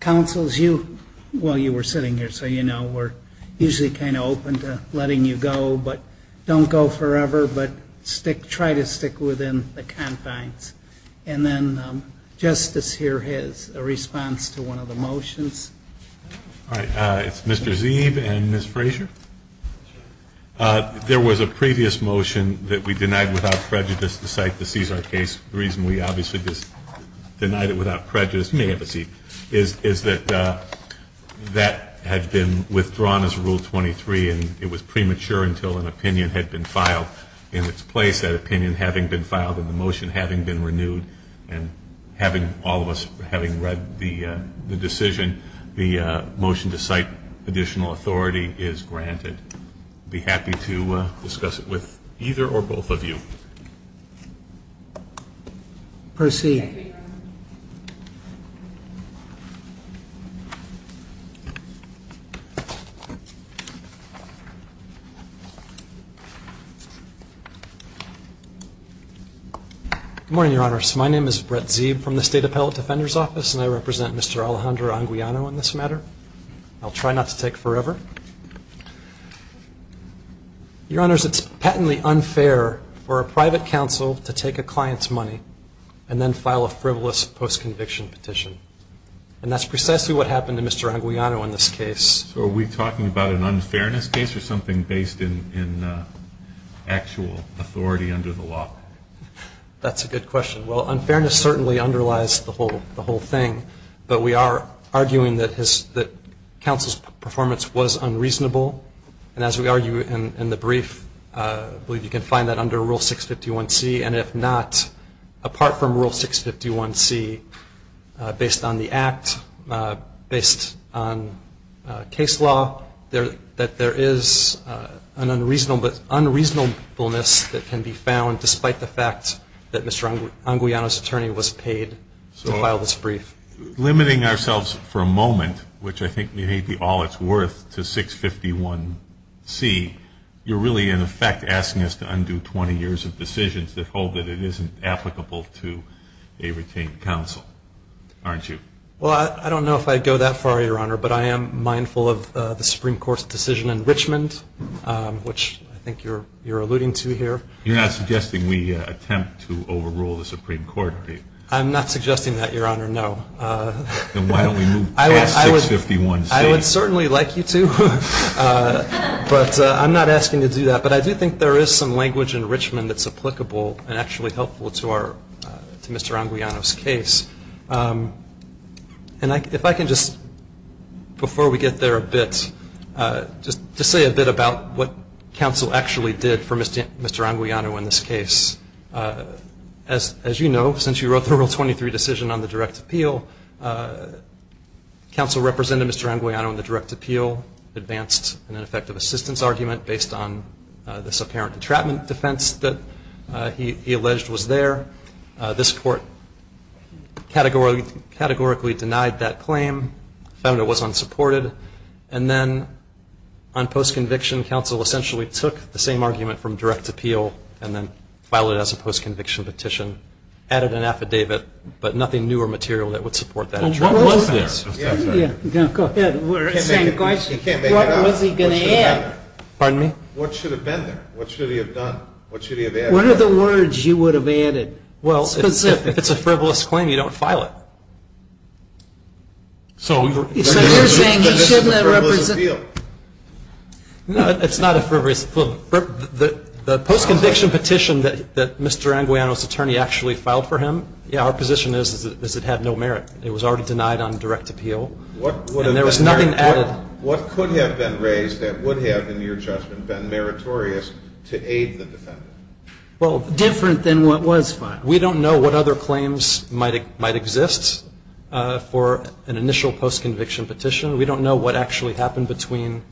Councils you while you were sitting here so you know we're usually kind of open to letting you go but don't go forever but stick try to stick within the confines and then justice here has a response to one of the motions. All right, it's Mr. Zeeb and Ms. Frazier. There was a previous motion that we denied without prejudice to cite the Cesar case. The reason we obviously just denied it without prejudice, you may have a seat, is that that had been withdrawn as rule 23 and it was premature until an opinion had been filed in its place. With that opinion having been filed and the motion having been renewed and having all of us having read the decision, the motion to cite additional authority is granted. Be happy to discuss it with either or both of you. Proceed. Good morning, Your Honors. My name is Brett Zeeb from the State Appellate Defender's Office and I represent Mr. Alejandro Anguiano in this matter. I'll try not to take forever. Your Honors, it's patently unfair for a private counsel to take a client's money and then file a frivolous post-conviction petition. And that's precisely what happened to Mr. Anguiano in this case. So are we talking about an unfairness case or something based in actual authority under the law? That's a good question. Well, unfairness certainly underlies the whole thing. But we are arguing that counsel's performance was unreasonable. And as we argue in the brief, I believe you can find that under Rule 651C. And if not, apart from Rule 651C, based on the Act, based on case law, that there is an unreasonableness that can be found despite the fact that Mr. Anguiano's attorney was paid to file this brief. Limiting ourselves for a moment, which I think may be all it's worth, to 651C, you're really in effect asking us to undo 20 years of decisions that hold that it isn't applicable to a retained counsel, aren't you? Well, I don't know if I'd go that far, Your Honor, but I am mindful of the Supreme Court's decision in Richmond, which I think you're alluding to here. You're not suggesting we attempt to overrule the Supreme Court, are you? I'm not suggesting that, Your Honor, no. Then why don't we move past 651C? I would certainly like you to, but I'm not asking you to do that. But I do think there is some language in Richmond that's applicable and actually helpful to Mr. Anguiano's case. And if I can just, before we get there a bit, just to say a bit about what counsel actually did for Mr. Anguiano in this case. As you know, since you wrote the Rule 23 decision on the direct appeal, counsel represented Mr. Anguiano in the direct appeal, advanced an ineffective assistance argument based on this apparent detrapment defense that he alleged was there. This court categorically denied that claim, found it was unsupported, and then on post-conviction, counsel essentially took the same argument from direct appeal and then violated it. Counsel filed it as a post-conviction petition, added an affidavit, but nothing new or material that would support that. What was this? You can't make it up. Pardon me? What should have been there? What should he have done? What should he have added? What are the words you would have added specifically? Well, if it's a frivolous claim, you don't file it. So you're saying he shouldn't have represented... It's a frivolous appeal. The post-conviction petition that Mr. Anguiano's attorney actually filed for him, our position is it had no merit. It was already denied on direct appeal. And there was nothing added. What could have been raised that would have, in your judgment, been meritorious to aid the defendant? Well, different than what was filed. We don't know what other claims might exist for an initial post-conviction petition. We don't know what actually happened between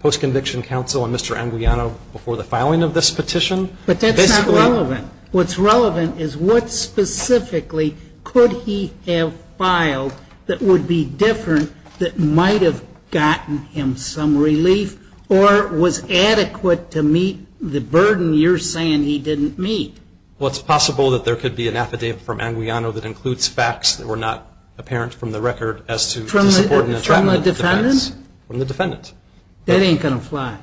post-conviction counsel and Mr. Anguiano before the filing of this petition. But that's not relevant. What's relevant is what specifically could he have filed that would be different that might have gotten him some relief or was adequate to meet the burden you're saying he didn't meet. Well, it's possible that there could be an affidavit from Anguiano that includes facts that were not apparent from the record as to the support and entrapment of the defense. From the defendant? From the defendant. That ain't going to fly.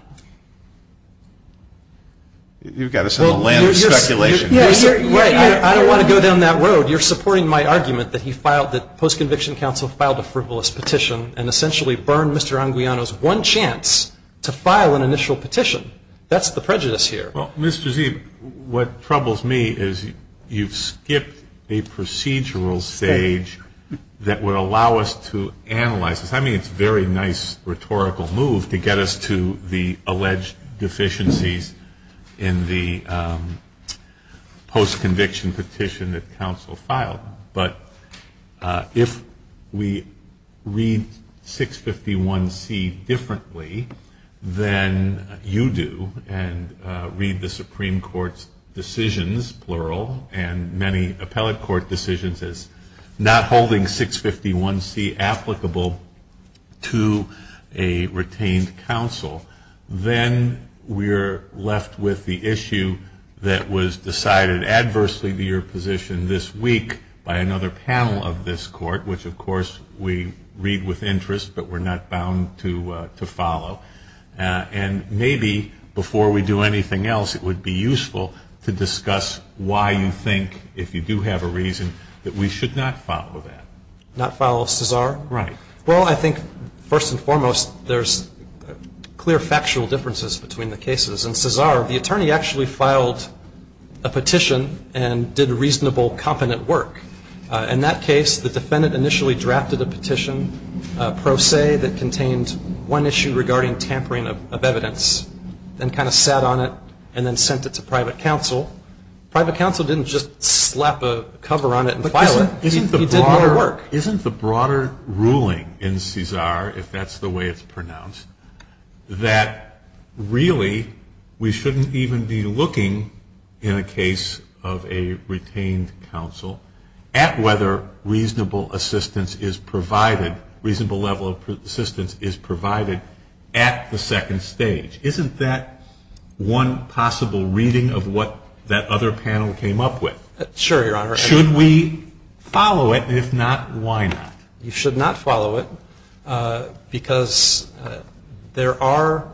You've got us in a land of speculation. You're supporting... Wait, I don't want to go down that road. You're supporting my argument that he filed, that post-conviction counsel filed a frivolous petition and essentially burned Mr. Anguiano's one chance to file an initial petition. That's the prejudice here. Well, Mr. Zee, what troubles me is you've skipped a procedural stage that would allow us to analyze this. I mean, it's a very nice rhetorical move to get us to the alleged deficiencies in the post-conviction petition that counsel filed. But if we read 651C differently than you do and read the Supreme Court's decisions, plural, and many appellate court decisions as not holding 651C applicable to a retained counsel, then we're left with the issue that was decided adversely to your position this week by another panel of this court, which of course we read with interest but we're not bound to follow. And maybe before we do anything else, it would be useful to discuss why you think, if you do have a reason, that we should not follow that. Not follow Cesar? Right. Well, I think first and foremost, there's clear factual differences between the cases. In Cesar, the attorney actually filed a petition and did reasonable, competent work. In that case, the defendant initially drafted a petition pro se that contained one issue regarding tampering of evidence and kind of sat on it and then sent it to private counsel. Private counsel didn't just slap a cover on it and file it. He did more work. Isn't the broader ruling in Cesar, if that's the way it's pronounced, that really we shouldn't even be looking in a case of a retained counsel at whether reasonable assistance is provided, reasonable level of assistance is provided at the second stage? Isn't that one possible reading of what that other panel came up with? Sure, Your Honor. Should we follow it? If not, why not? You should not follow it because there are,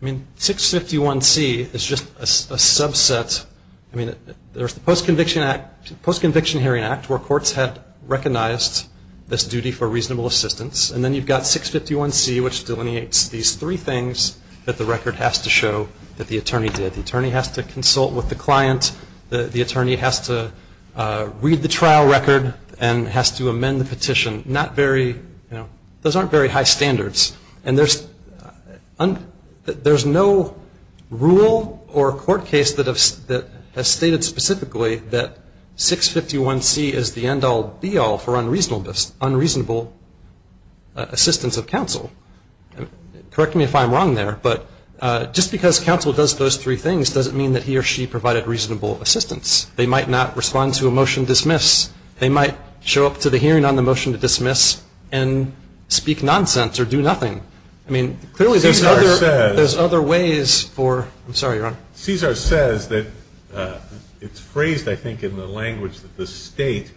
I mean, 651C is just a subset. I mean, there's the Post-Conviction Hearing Act where courts had recognized this duty for reasonable assistance and then you've got 651C which delineates these three things that the record has to show that the attorney did. The attorney has to consult with the client. The attorney has to read the trial record and has to amend the petition. Not very, you know, those aren't very high standards. And there's no rule or court case that has stated specifically that 651C is the end-all, be-all for unreasonable assistance of counsel. Correct me if I'm wrong there, but just because counsel does those three things doesn't mean that he or she provided reasonable assistance. They might not respond to a motion dismiss. They might show up to the hearing on the motion to dismiss and speak nonsense or do nothing. I mean, clearly there's other ways for, I'm sorry, Your Honor. Cesar says that it's phrased, I think, in the language that the state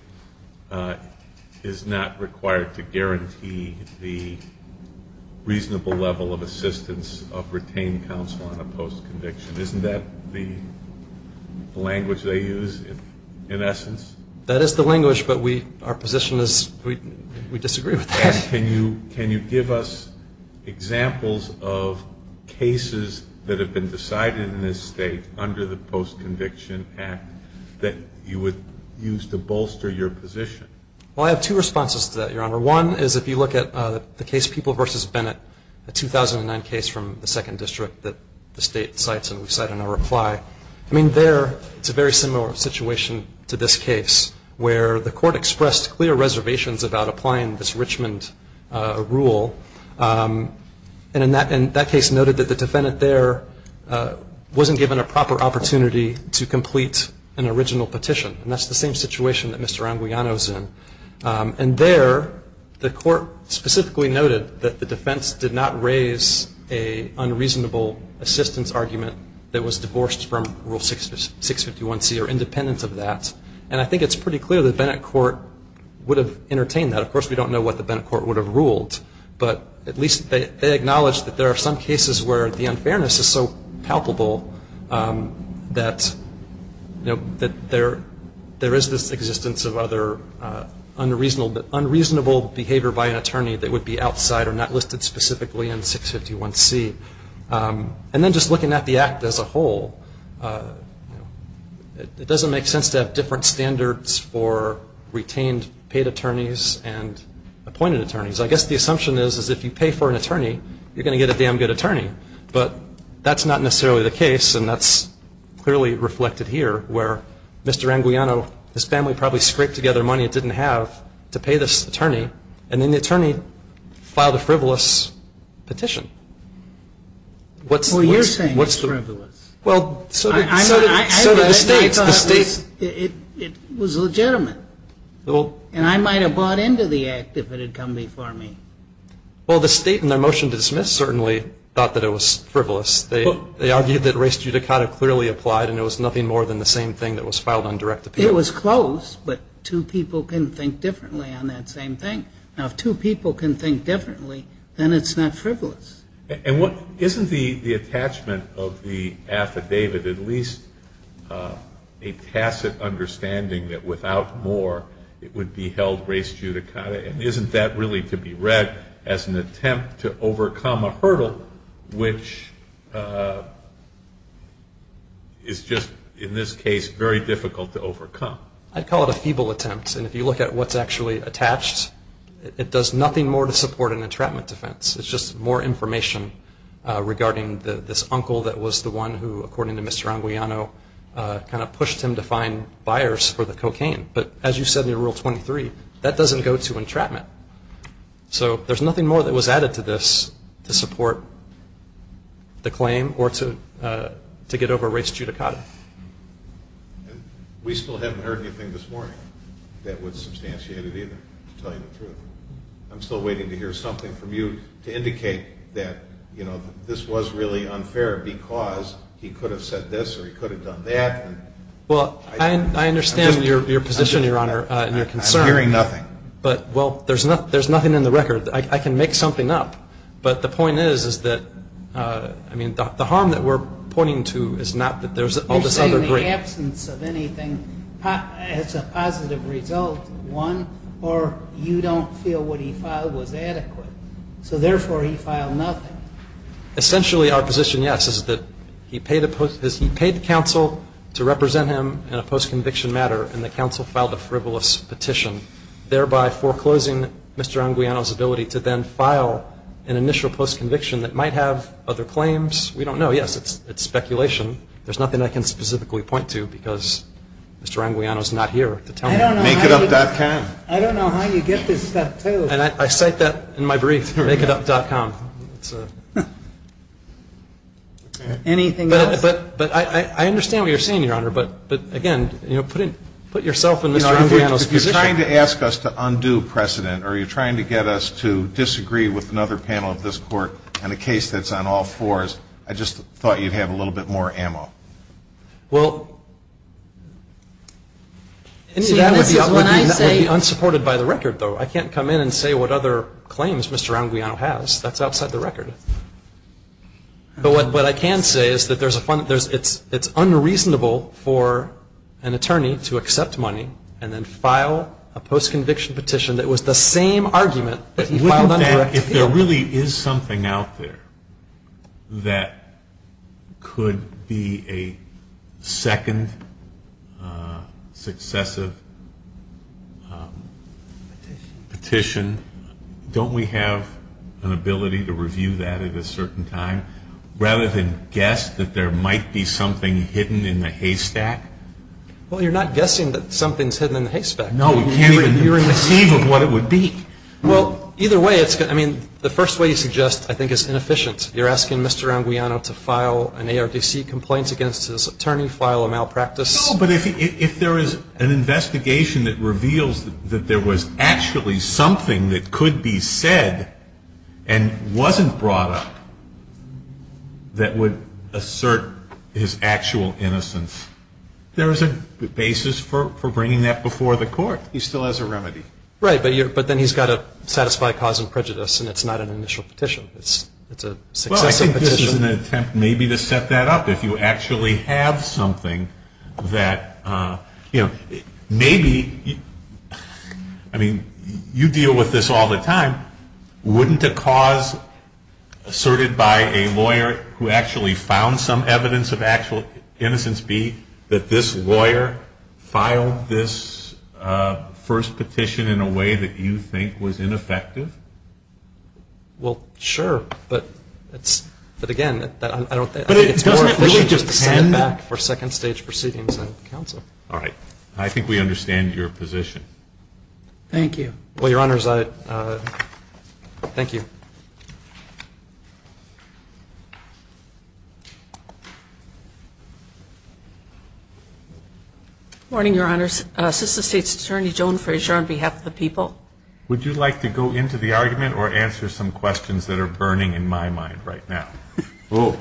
is not required to guarantee the reasonable level of assistance of retained counsel on a post-conviction. Isn't that the language they use in essence? That is the language, but our position is we disagree with that. And can you give us examples of cases that have been decided in this state under the Post-Conviction Act that you would use to bolster your position? Well, I have two responses to that, Your Honor. One is if you look at the case People v. Bennett, a 2009 case from the 2nd District that the state cites and we cite in our reply. I mean, there it's a very similar situation to this case where the court expressed clear reservations about applying this Richmond rule. And in that case noted that the defendant there wasn't given a proper opportunity to complete an original petition. And that's the same situation that Mr. Anguiano is in. And there the court specifically noted that the defense did not raise an unreasonable assistance argument that was divorced from Rule 651C or independent of that. And I think it's pretty clear the Bennett court would have entertained that. Of course, we don't know what the Bennett court would have ruled, but at least they acknowledged that there are some cases where the unfairness is so palpable that there is this existence of other unreasonable behavior by an attorney that would be outside or not listed specifically in 651C. And then just looking at the Act as a whole, it doesn't make sense to have different standards for retained paid attorneys and appointed attorneys. I guess the assumption is if you pay for an attorney, you're going to get a damn good attorney. But that's not necessarily the case, and that's clearly reflected here where Mr. Anguiano, his family probably scraped together money it didn't have to pay this attorney, and then the attorney filed a frivolous petition. Well, you're saying it's frivolous. Well, so the state, the state. It was legitimate. And I might have bought into the Act if it had come before me. Well, the state in their motion to dismiss certainly thought that it was frivolous. They argued that res judicata clearly applied, and it was nothing more than the same thing that was filed on direct appeal. It was close, but two people can think differently on that same thing. Now, if two people can think differently, then it's not frivolous. And isn't the attachment of the affidavit at least a tacit understanding that without more, it would be held res judicata? And isn't that really to be read as an attempt to overcome a hurdle which is just, in this case, very difficult to overcome? I'd call it a feeble attempt. And if you look at what's actually attached, it does nothing more to support an entrapment defense. It's just more information regarding this uncle that was the one who, according to Mr. Anguiano, kind of pushed him to find buyers for the cocaine. But as you said in Rule 23, that doesn't go to entrapment. So there's nothing more that was added to this to support the claim or to get over res judicata. We still haven't heard anything this morning that would substantiate it either, to tell you the truth. I'm still waiting to hear something from you to indicate that this was really unfair because he could have said this or he could have done that. Well, I understand your position, Your Honor, and your concern. I'm hearing nothing. Well, there's nothing in the record. I can make something up. But the point is that the harm that we're pointing to is not that there's all this other great... You're saying the absence of anything is a positive result, one, or you don't feel what he filed was adequate. So therefore, he filed nothing. Essentially, our position, yes, is that he paid the counsel to represent him in a post-conviction matter and the counsel filed a frivolous petition, thereby foreclosing Mr. Anguiano's ability to then file an initial post-conviction that might have other claims. We don't know. Yes, it's speculation. There's nothing I can specifically point to because Mr. Anguiano's not here to tell me. Makeitup.com I don't know how you get this stuff, too. And I cite that in my brief. Makeitup.com Anything else? I understand what you're saying, Your Honor, but again, put yourself in Mr. Anguiano's position. If you're trying to ask us to undo precedent or you're trying to get us to disagree with another panel of this Court on a case that's on all fours, I just thought you'd have a little bit more ammo. Well, that would be unsupported by the record, though. I can't come in and say what other claims Mr. Anguiano has. That's outside the record. But what I can say is that it's unreasonable for an attorney to accept money and then file a post-conviction petition that was the same argument that he filed under Act 2. If there really is something out there that could be a second successive petition, don't we have an ability to review that at a certain time rather than guess that there might be something hidden in the haystack? Well, you're not guessing that something's hidden in the haystack. No, you can't even conceive of what it would be. Well, either way, the first way you suggest, I think, is inefficient. You're asking Mr. Anguiano to file an ARDC complaint against his attorney, file a malpractice... No, but if there is an investigation that reveals that there was actually something that could be said and wasn't brought up that would assert his actual innocence, there is a basis for bringing that before the court. He still has a remedy. Right, but then he's got to satisfy cause and prejudice and it's not an initial petition. It's a successive petition. Well, I think this is an attempt maybe to set that up. If you actually have something that, you know, you hear this all the time, wouldn't a cause asserted by a lawyer who actually found some evidence of actual innocence be that this lawyer filed this first petition in a way that you think was ineffective? Well, sure, but again, I don't think... But doesn't it really just send it back for second-stage proceedings in counsel? All right, I think we understand your position. Thank you. Well, Your Honors, thank you. Good morning, Your Honors. Assistant State's Attorney Joan Frazier on behalf of the people. Would you like to go into the argument or answer some questions that are burning in my mind right now? Go toward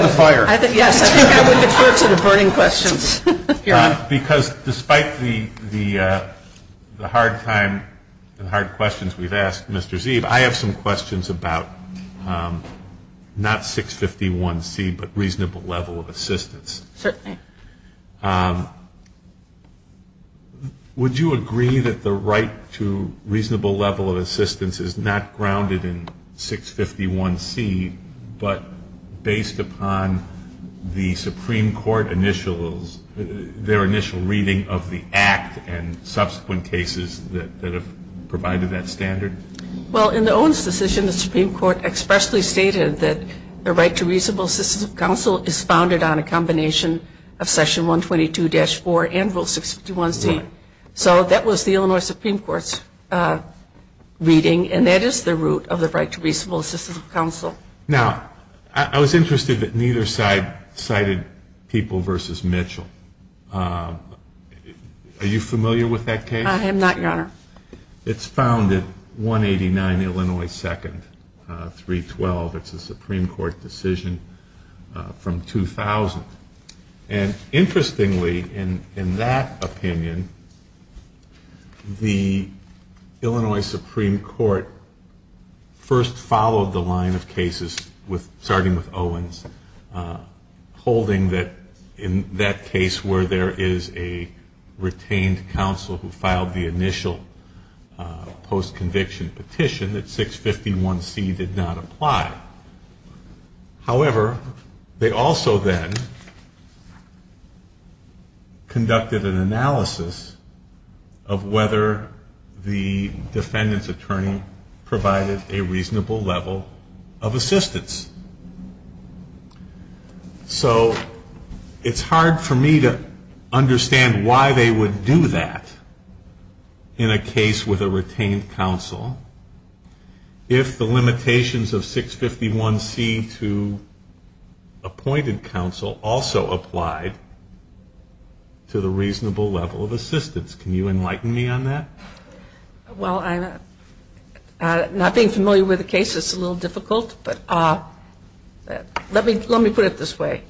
the fire. Yes, I think I would defer to the burning questions. Because despite the hard time and hard questions we've asked, Mr. Zeeb, I have some questions about not 651C but reasonable level of assistance. Certainly. Would you agree that the right to reasonable level of assistance is not grounded in 651C but based upon the Supreme Court initials their initial reading of the act and subsequent cases that have provided that standard? Well, in the Owens decision, the Supreme Court expressly stated that the right to reasonable assistance of counsel is founded on a combination of Section 122-4 and Rule 651C. So that was the Illinois Supreme Court's reading and that is the root of the right to reasonable assistance of counsel. Now, I was interested that neither side cited People v. Mitchell. Are you familiar with that case? I am not, Your Honor. It's found at 189 Illinois 2nd, 312. It's a Supreme Court decision from 2000. And interestingly, in that opinion, the Illinois Supreme Court first followed the line of cases starting with Owens holding that in that case where there is a retained counsel who filed the initial post-conviction petition that 651C did not apply. However, they also then conducted an analysis of whether the defendant's attorney provided a reasonable level of assistance. So it's hard for me to understand why they would do that in a case with a retained counsel if the limitations of 651C to appointed counsel also applied to the reasonable level of assistance. Can you enlighten me on that? Well, I'm not being familiar with the case. It's a little difficult. Let me put it this way.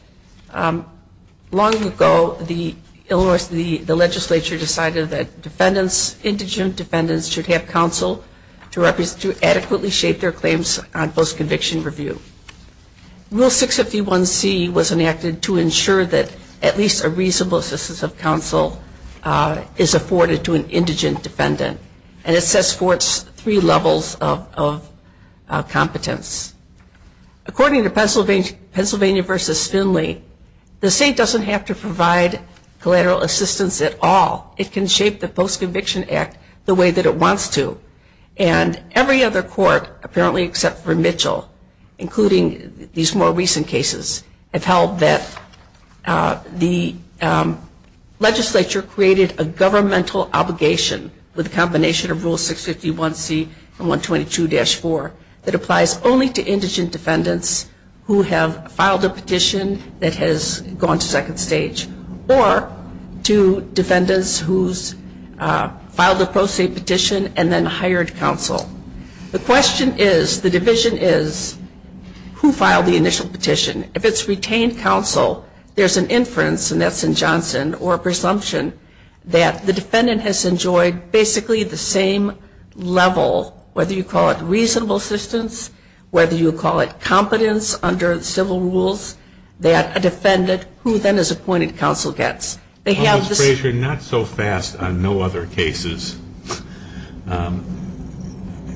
Long ago, the Illinois legislature decided that indigent defendants should have counsel to adequately shape their claims on post-conviction review. Rule 651C was enacted to ensure that at least a reasonable assistance of counsel is afforded to an indigent defendant and it sets forth three levels of competence. According to Pennsylvania v. Finley, the state doesn't have to provide collateral assistance at all. It can shape the post-conviction act the way that it wants to. And every other court, apparently except for Mitchell, including these more recent cases, have held that the legislature created a governmental obligation with a combination of Rule 651C and 122-4 that applies only to indigent defendants who have filed a petition that has gone to second stage or to defendants who filed a pro se petition and then hired counsel. The question is, the division is, who filed the initial petition? If it's retained counsel, there's an inference, and that's in Johnson, or a presumption, that the defendant has enjoyed basically the same level, whether you call it reasonable assistance, whether you call it competence under civil rules, that a defendant who then is appointed counsel gets. Well, Ms. Frazier, not so fast on no other cases.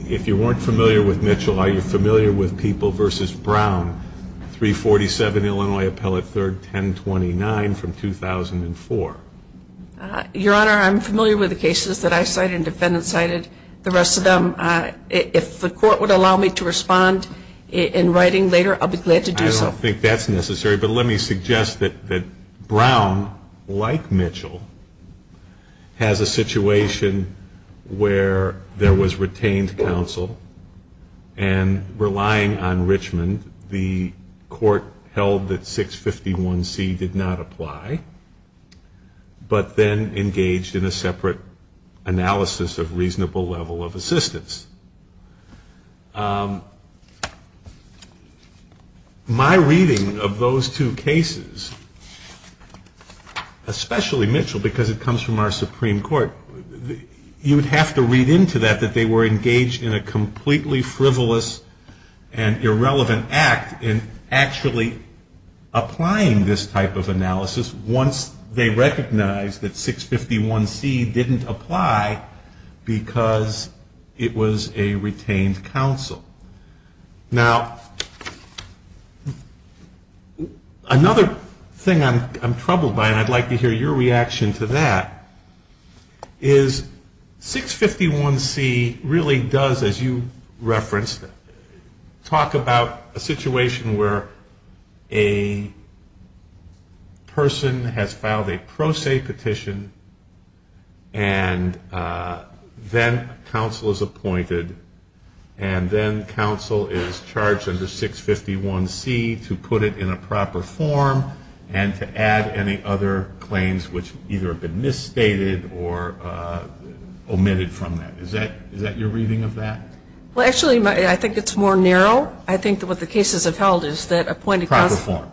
If you weren't familiar with Mitchell, are you familiar with Brown v. Mitchell 347 Illinois Appellate 3rd 1029 from 2004? Your Honor, I'm familiar with the cases that I cited and defendants cited. The rest of them, if the court would allow me to respond in writing later, I'll be glad to do so. I don't think that's necessary, but let me suggest that Brown, like Mitchell, has a situation where there was retained counsel and relying on Richmond, the court held that 651C did not apply, but then engaged in a separate analysis of reasonable level of assistance. My reading of those two cases, especially Mitchell, because it comes from our Supreme Court, you would have to read into that that they were engaged in a completely frivolous and irrelevant act in actually applying this type of analysis once they recognized that 651C didn't apply because it was a retained counsel. Now, another thing I'm troubled by, and I'd like to hear your reaction to that, is that 651C really does, as you referenced, talk about a situation where a person has filed a pro se petition and then counsel is appointed and then counsel is charged under 651C to put it in a proper form and to add any other claims which either have been prevented from that. Is that your reading of that? Well, actually, I think it's more narrow. I think what the cases have held is that appointed counsel... Proper form.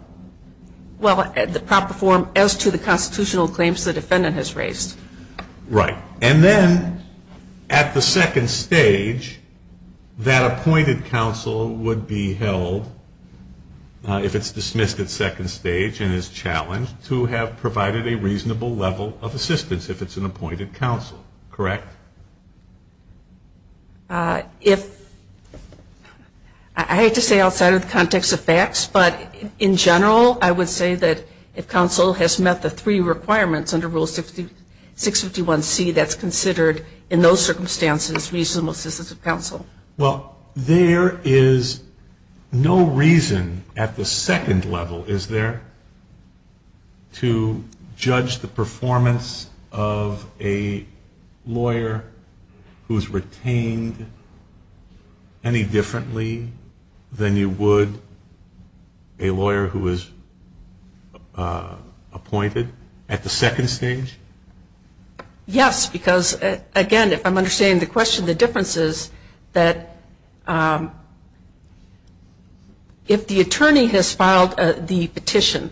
Well, the proper form as to the constitutional claims the defendant has raised. Right. And then, at the second stage, that appointed counsel would be if it's dismissed at second stage and is challenged, to have provided a reasonable level of assistance if it's an appointed counsel. Correct? If... I hate to say outside of the context of facts, but in general, I would say that if counsel has met the three requirements under Rule 651C that's considered, in those circumstances, reasonable assistance of counsel. Well, there is no reason at the second level, is there, to have a lawyer who's retained any differently than you would a lawyer who is appointed at the second stage? Yes. Because, again, if I'm understanding the question, the difference is that if the attorney has filed the petition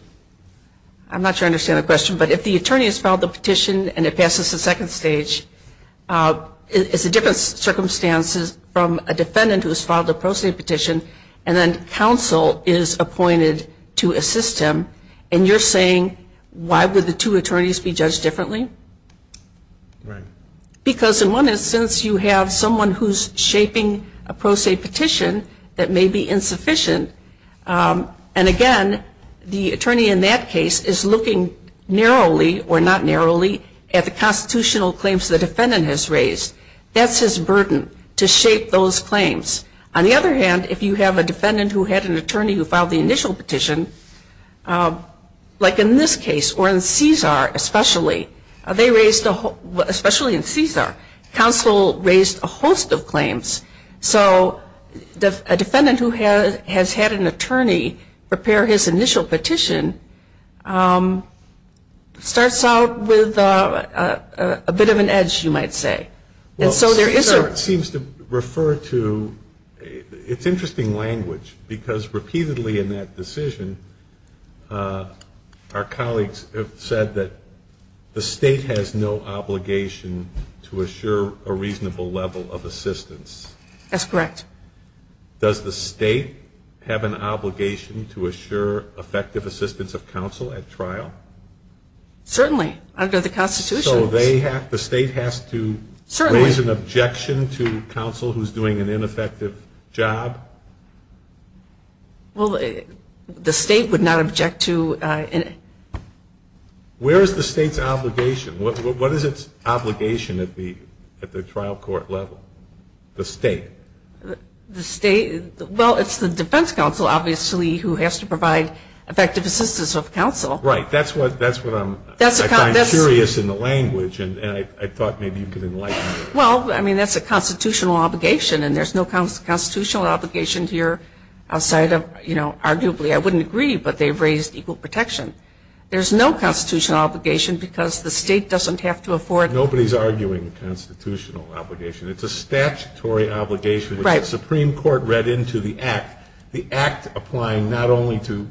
I'm not sure I understand the question but if the attorney has filed the petition and it passes the second stage it's a different circumstances from a defendant who has filed a pro se petition and then counsel is appointed to assist him and you're saying, why would the two attorneys be judged differently? Right. Because, in one instance, you have someone who's shaping a pro se petition that may be insufficient and, again, the attorney in that case is looking narrowly or not narrowly, at the constitutional claims the defendant has raised. That's his burden, to shape those claims. On the other hand, if you have a defendant who had an attorney who filed the initial petition like in this case or in Cesar especially they raised, especially in Cesar counsel raised a host of claims so a defendant who has had an attorney prepare his initial petition starts out with a bit of an edge, you might say. Cesar seems to refer to it's interesting language because repeatedly in that decision our colleagues have said that the state has no obligation to assure a reasonable level of assistance. That's correct. Does the state have an obligation to assure effective assistance of counsel at trial? Certainly. Under the Constitution. So the state has to raise an objection to counsel who's doing an ineffective job? Well, the state would not object to Where is the state's obligation? What is it's obligation at the trial court level? The state. Well, it's the defense counsel obviously who has to provide effective assistance of counsel. Right, that's what I'm curious in the language and I thought maybe you could enlighten me. Well, I mean that's a constitutional obligation and there's no constitutional obligation here outside of arguably I wouldn't agree but they've raised equal protection. There's no constitutional obligation because the state doesn't have to afford Nobody's arguing a constitutional obligation. It's a statutory obligation which the Supreme Court read into the act. The act applying not only to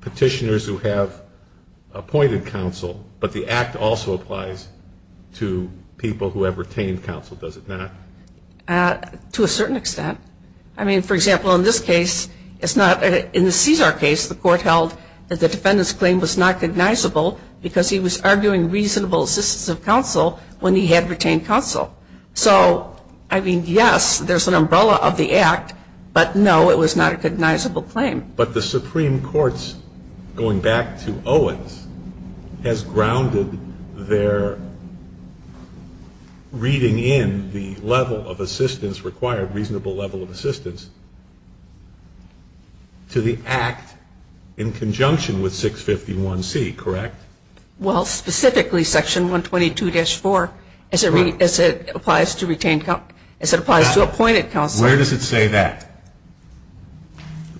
petitioners who have appointed counsel but the act also applies to people who have retained counsel does it not? To a certain extent. I mean for example in this case in the Cesar case the court held that the defendant's claim was not recognizable because he was arguing reasonable assistance of counsel when he had retained counsel. So I mean yes there's an umbrella of the act but no it was not a recognizable claim. But the Supreme Court's going back to Owens has grounded their reading in the level of assistance required reasonable level of assistance to the act in conjunction with 651C correct? Well specifically section 122-4 as it applies to appointed counsel Where does it say that?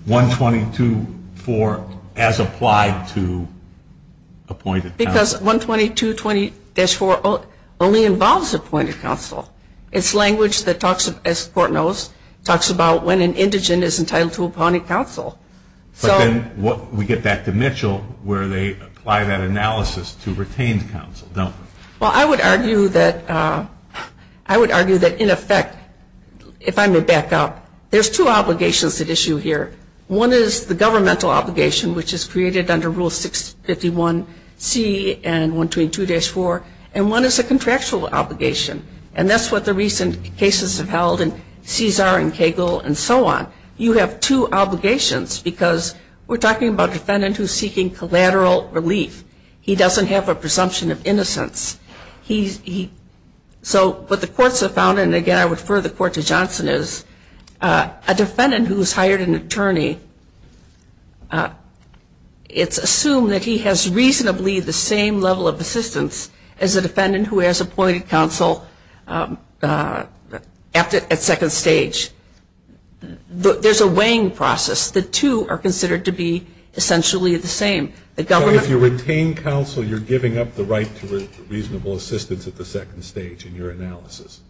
122-4 as applied to appointed counsel Because 122-4 only involves appointed counsel It's language that talks as the court knows talks about when an indigent is entitled to appointed counsel But then we get back to Mitchell where they apply that analysis to retained counsel Well I would argue that I would argue that in effect if I may back up there's two obligations at issue here. One is the governmental obligation which is created under rule 651C and 122-4 and one is a contractual obligation and that's what the recent cases have held in Cesar and Cagle and so on You have two obligations because we're talking about a defendant who is seeking collateral relief He doesn't have a presumption of innocence He So what the courts have found and again I would refer the court to Johnson is a defendant who has hired an attorney it's assumed that he has reasonably the same level of assistance as a defendant who has appointed counsel at second stage There's a weighing process. The two are considered to be essentially the same So if you retain counsel you're giving up the right to reasonable assistance at the second stage in your analysis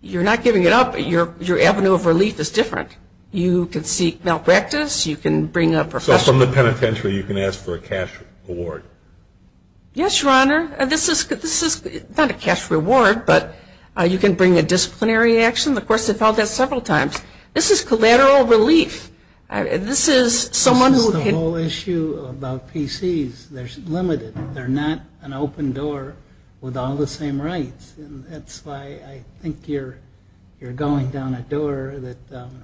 You're not giving it up Your avenue of relief is different You can seek malpractice You can bring a professional So from the penitentiary you can ask for a cash reward Yes Your Honor This is not a cash reward but you can bring a disciplinary action This is collateral relief This is This is the whole issue about PC's They're limited They're not an open door with all the same rights That's why I think you're going down a door that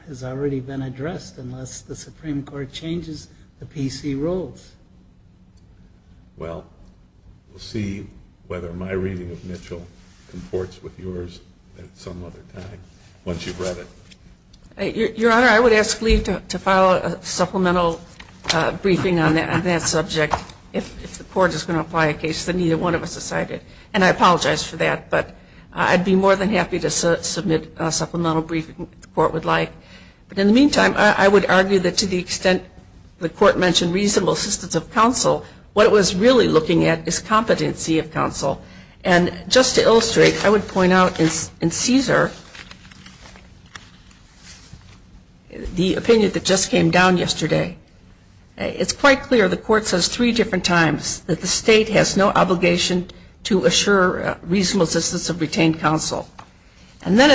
has already been addressed unless the Supreme Court changes the PC rules Well We'll see whether my reading of Mitchell comports with yours at some other time Your Honor I would ask Lee to file a supplemental briefing on that subject if the court is going to apply a case that neither one of us decided and I apologize for that I'd be more than happy to submit a supplemental briefing if the court would like In the meantime I would argue that to the extent the court mentioned reasonable assistance of counsel what it was really looking at is competency of counsel and just to illustrate I would point out in Caesar the opinion that just came down yesterday It's quite clear the court says three different times that the state has no obligation to assure reasonable assistance of retained counsel And then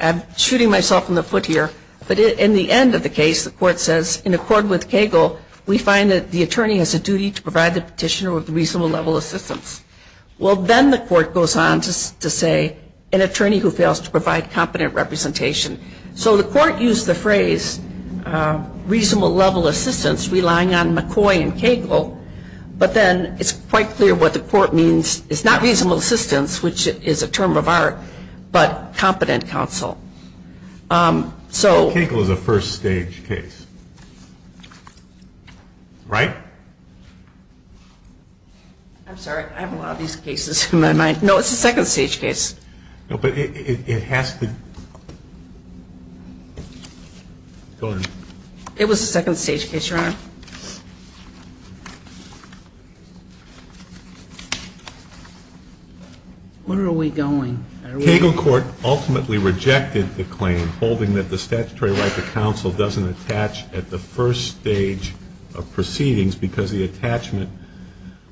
I'm shooting myself in the foot here but in the end of the case the court says in accord with Cagle we find that the attorney has a duty to provide the petitioner with reasonable level assistance Well then the court goes on to say an attorney who fails to provide competent representation So the court used the phrase reasonable level assistance relying on McCoy and Cagle but then it's quite clear what the court means it's not reasonable assistance which is a term of art but competent counsel So Cagle is a first stage case Right? I'm sorry I have a lot of these cases in my mind No, it's a second stage case No, but it has to Go ahead It was a second stage case, Your Honor Where are we going? Cagle court ultimately rejected the claim holding that the statutory right to counsel doesn't attach at the first stage of proceedings because the attachment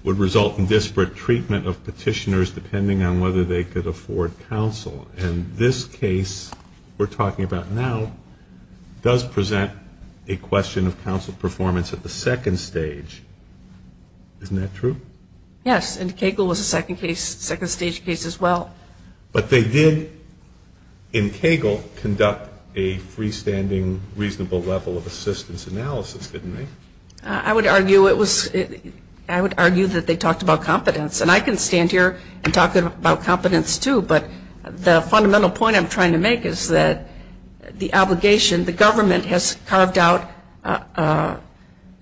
would result in disparate treatment of petitioners depending on whether they could afford counsel and this case we're talking about now does present a question of counsel performance at the second stage Isn't that true? Yes, and Cagle was a second case second stage case as well But they did in Cagle conduct a freestanding reasonable level of assistance analysis, didn't they? I would argue that they talked about competence and I can stand here and talk about competence too, but the fundamental point I'm trying to make is that the obligation, the government has carved out a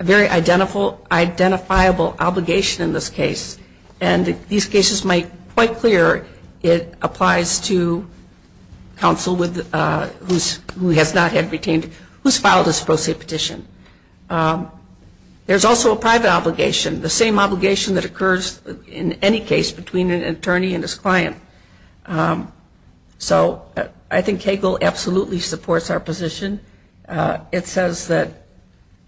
very identifiable obligation in this case and these cases make quite clear it applies to counsel who has not had retained who's filed his pro se petition There's also a private obligation, the same obligation that occurs in any case between an attorney and his client So I think Cagle absolutely supports our position It says that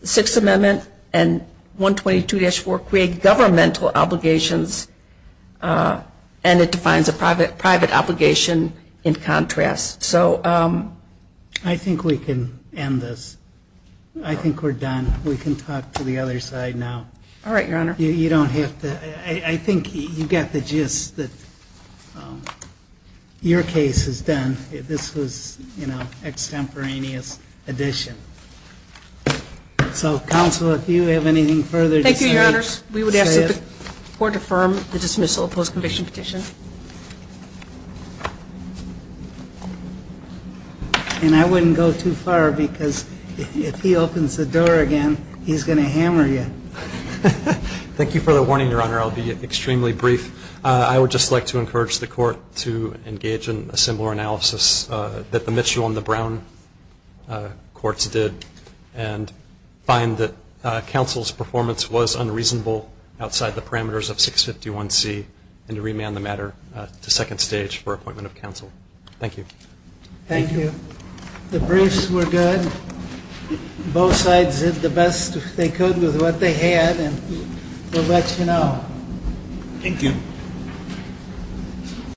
the Sixth Amendment and 122-4 create governmental obligations and it defines a private obligation in contrast I think we can end this I think we're done We can talk to the other side now You don't have to I think you get the gist that your case has done This was extemporaneous addition So Counsel, if you have anything further to say We would ask that the Court affirm the dismissal of post-conviction petition And I wouldn't go too far because if he opens the door again he's going to hammer you Thank you for the warning, Your Honor I'll be extremely brief I would just like to encourage the Court to engage in a similar analysis that the Mitchell and the Brown courts did and find that Counsel's performance was unreasonable outside the parameters of 651C and to remand the matter to second stage for appointment of Counsel Thank you The briefs were good Both sides did the best they could with what they had and we'll let you know Thank you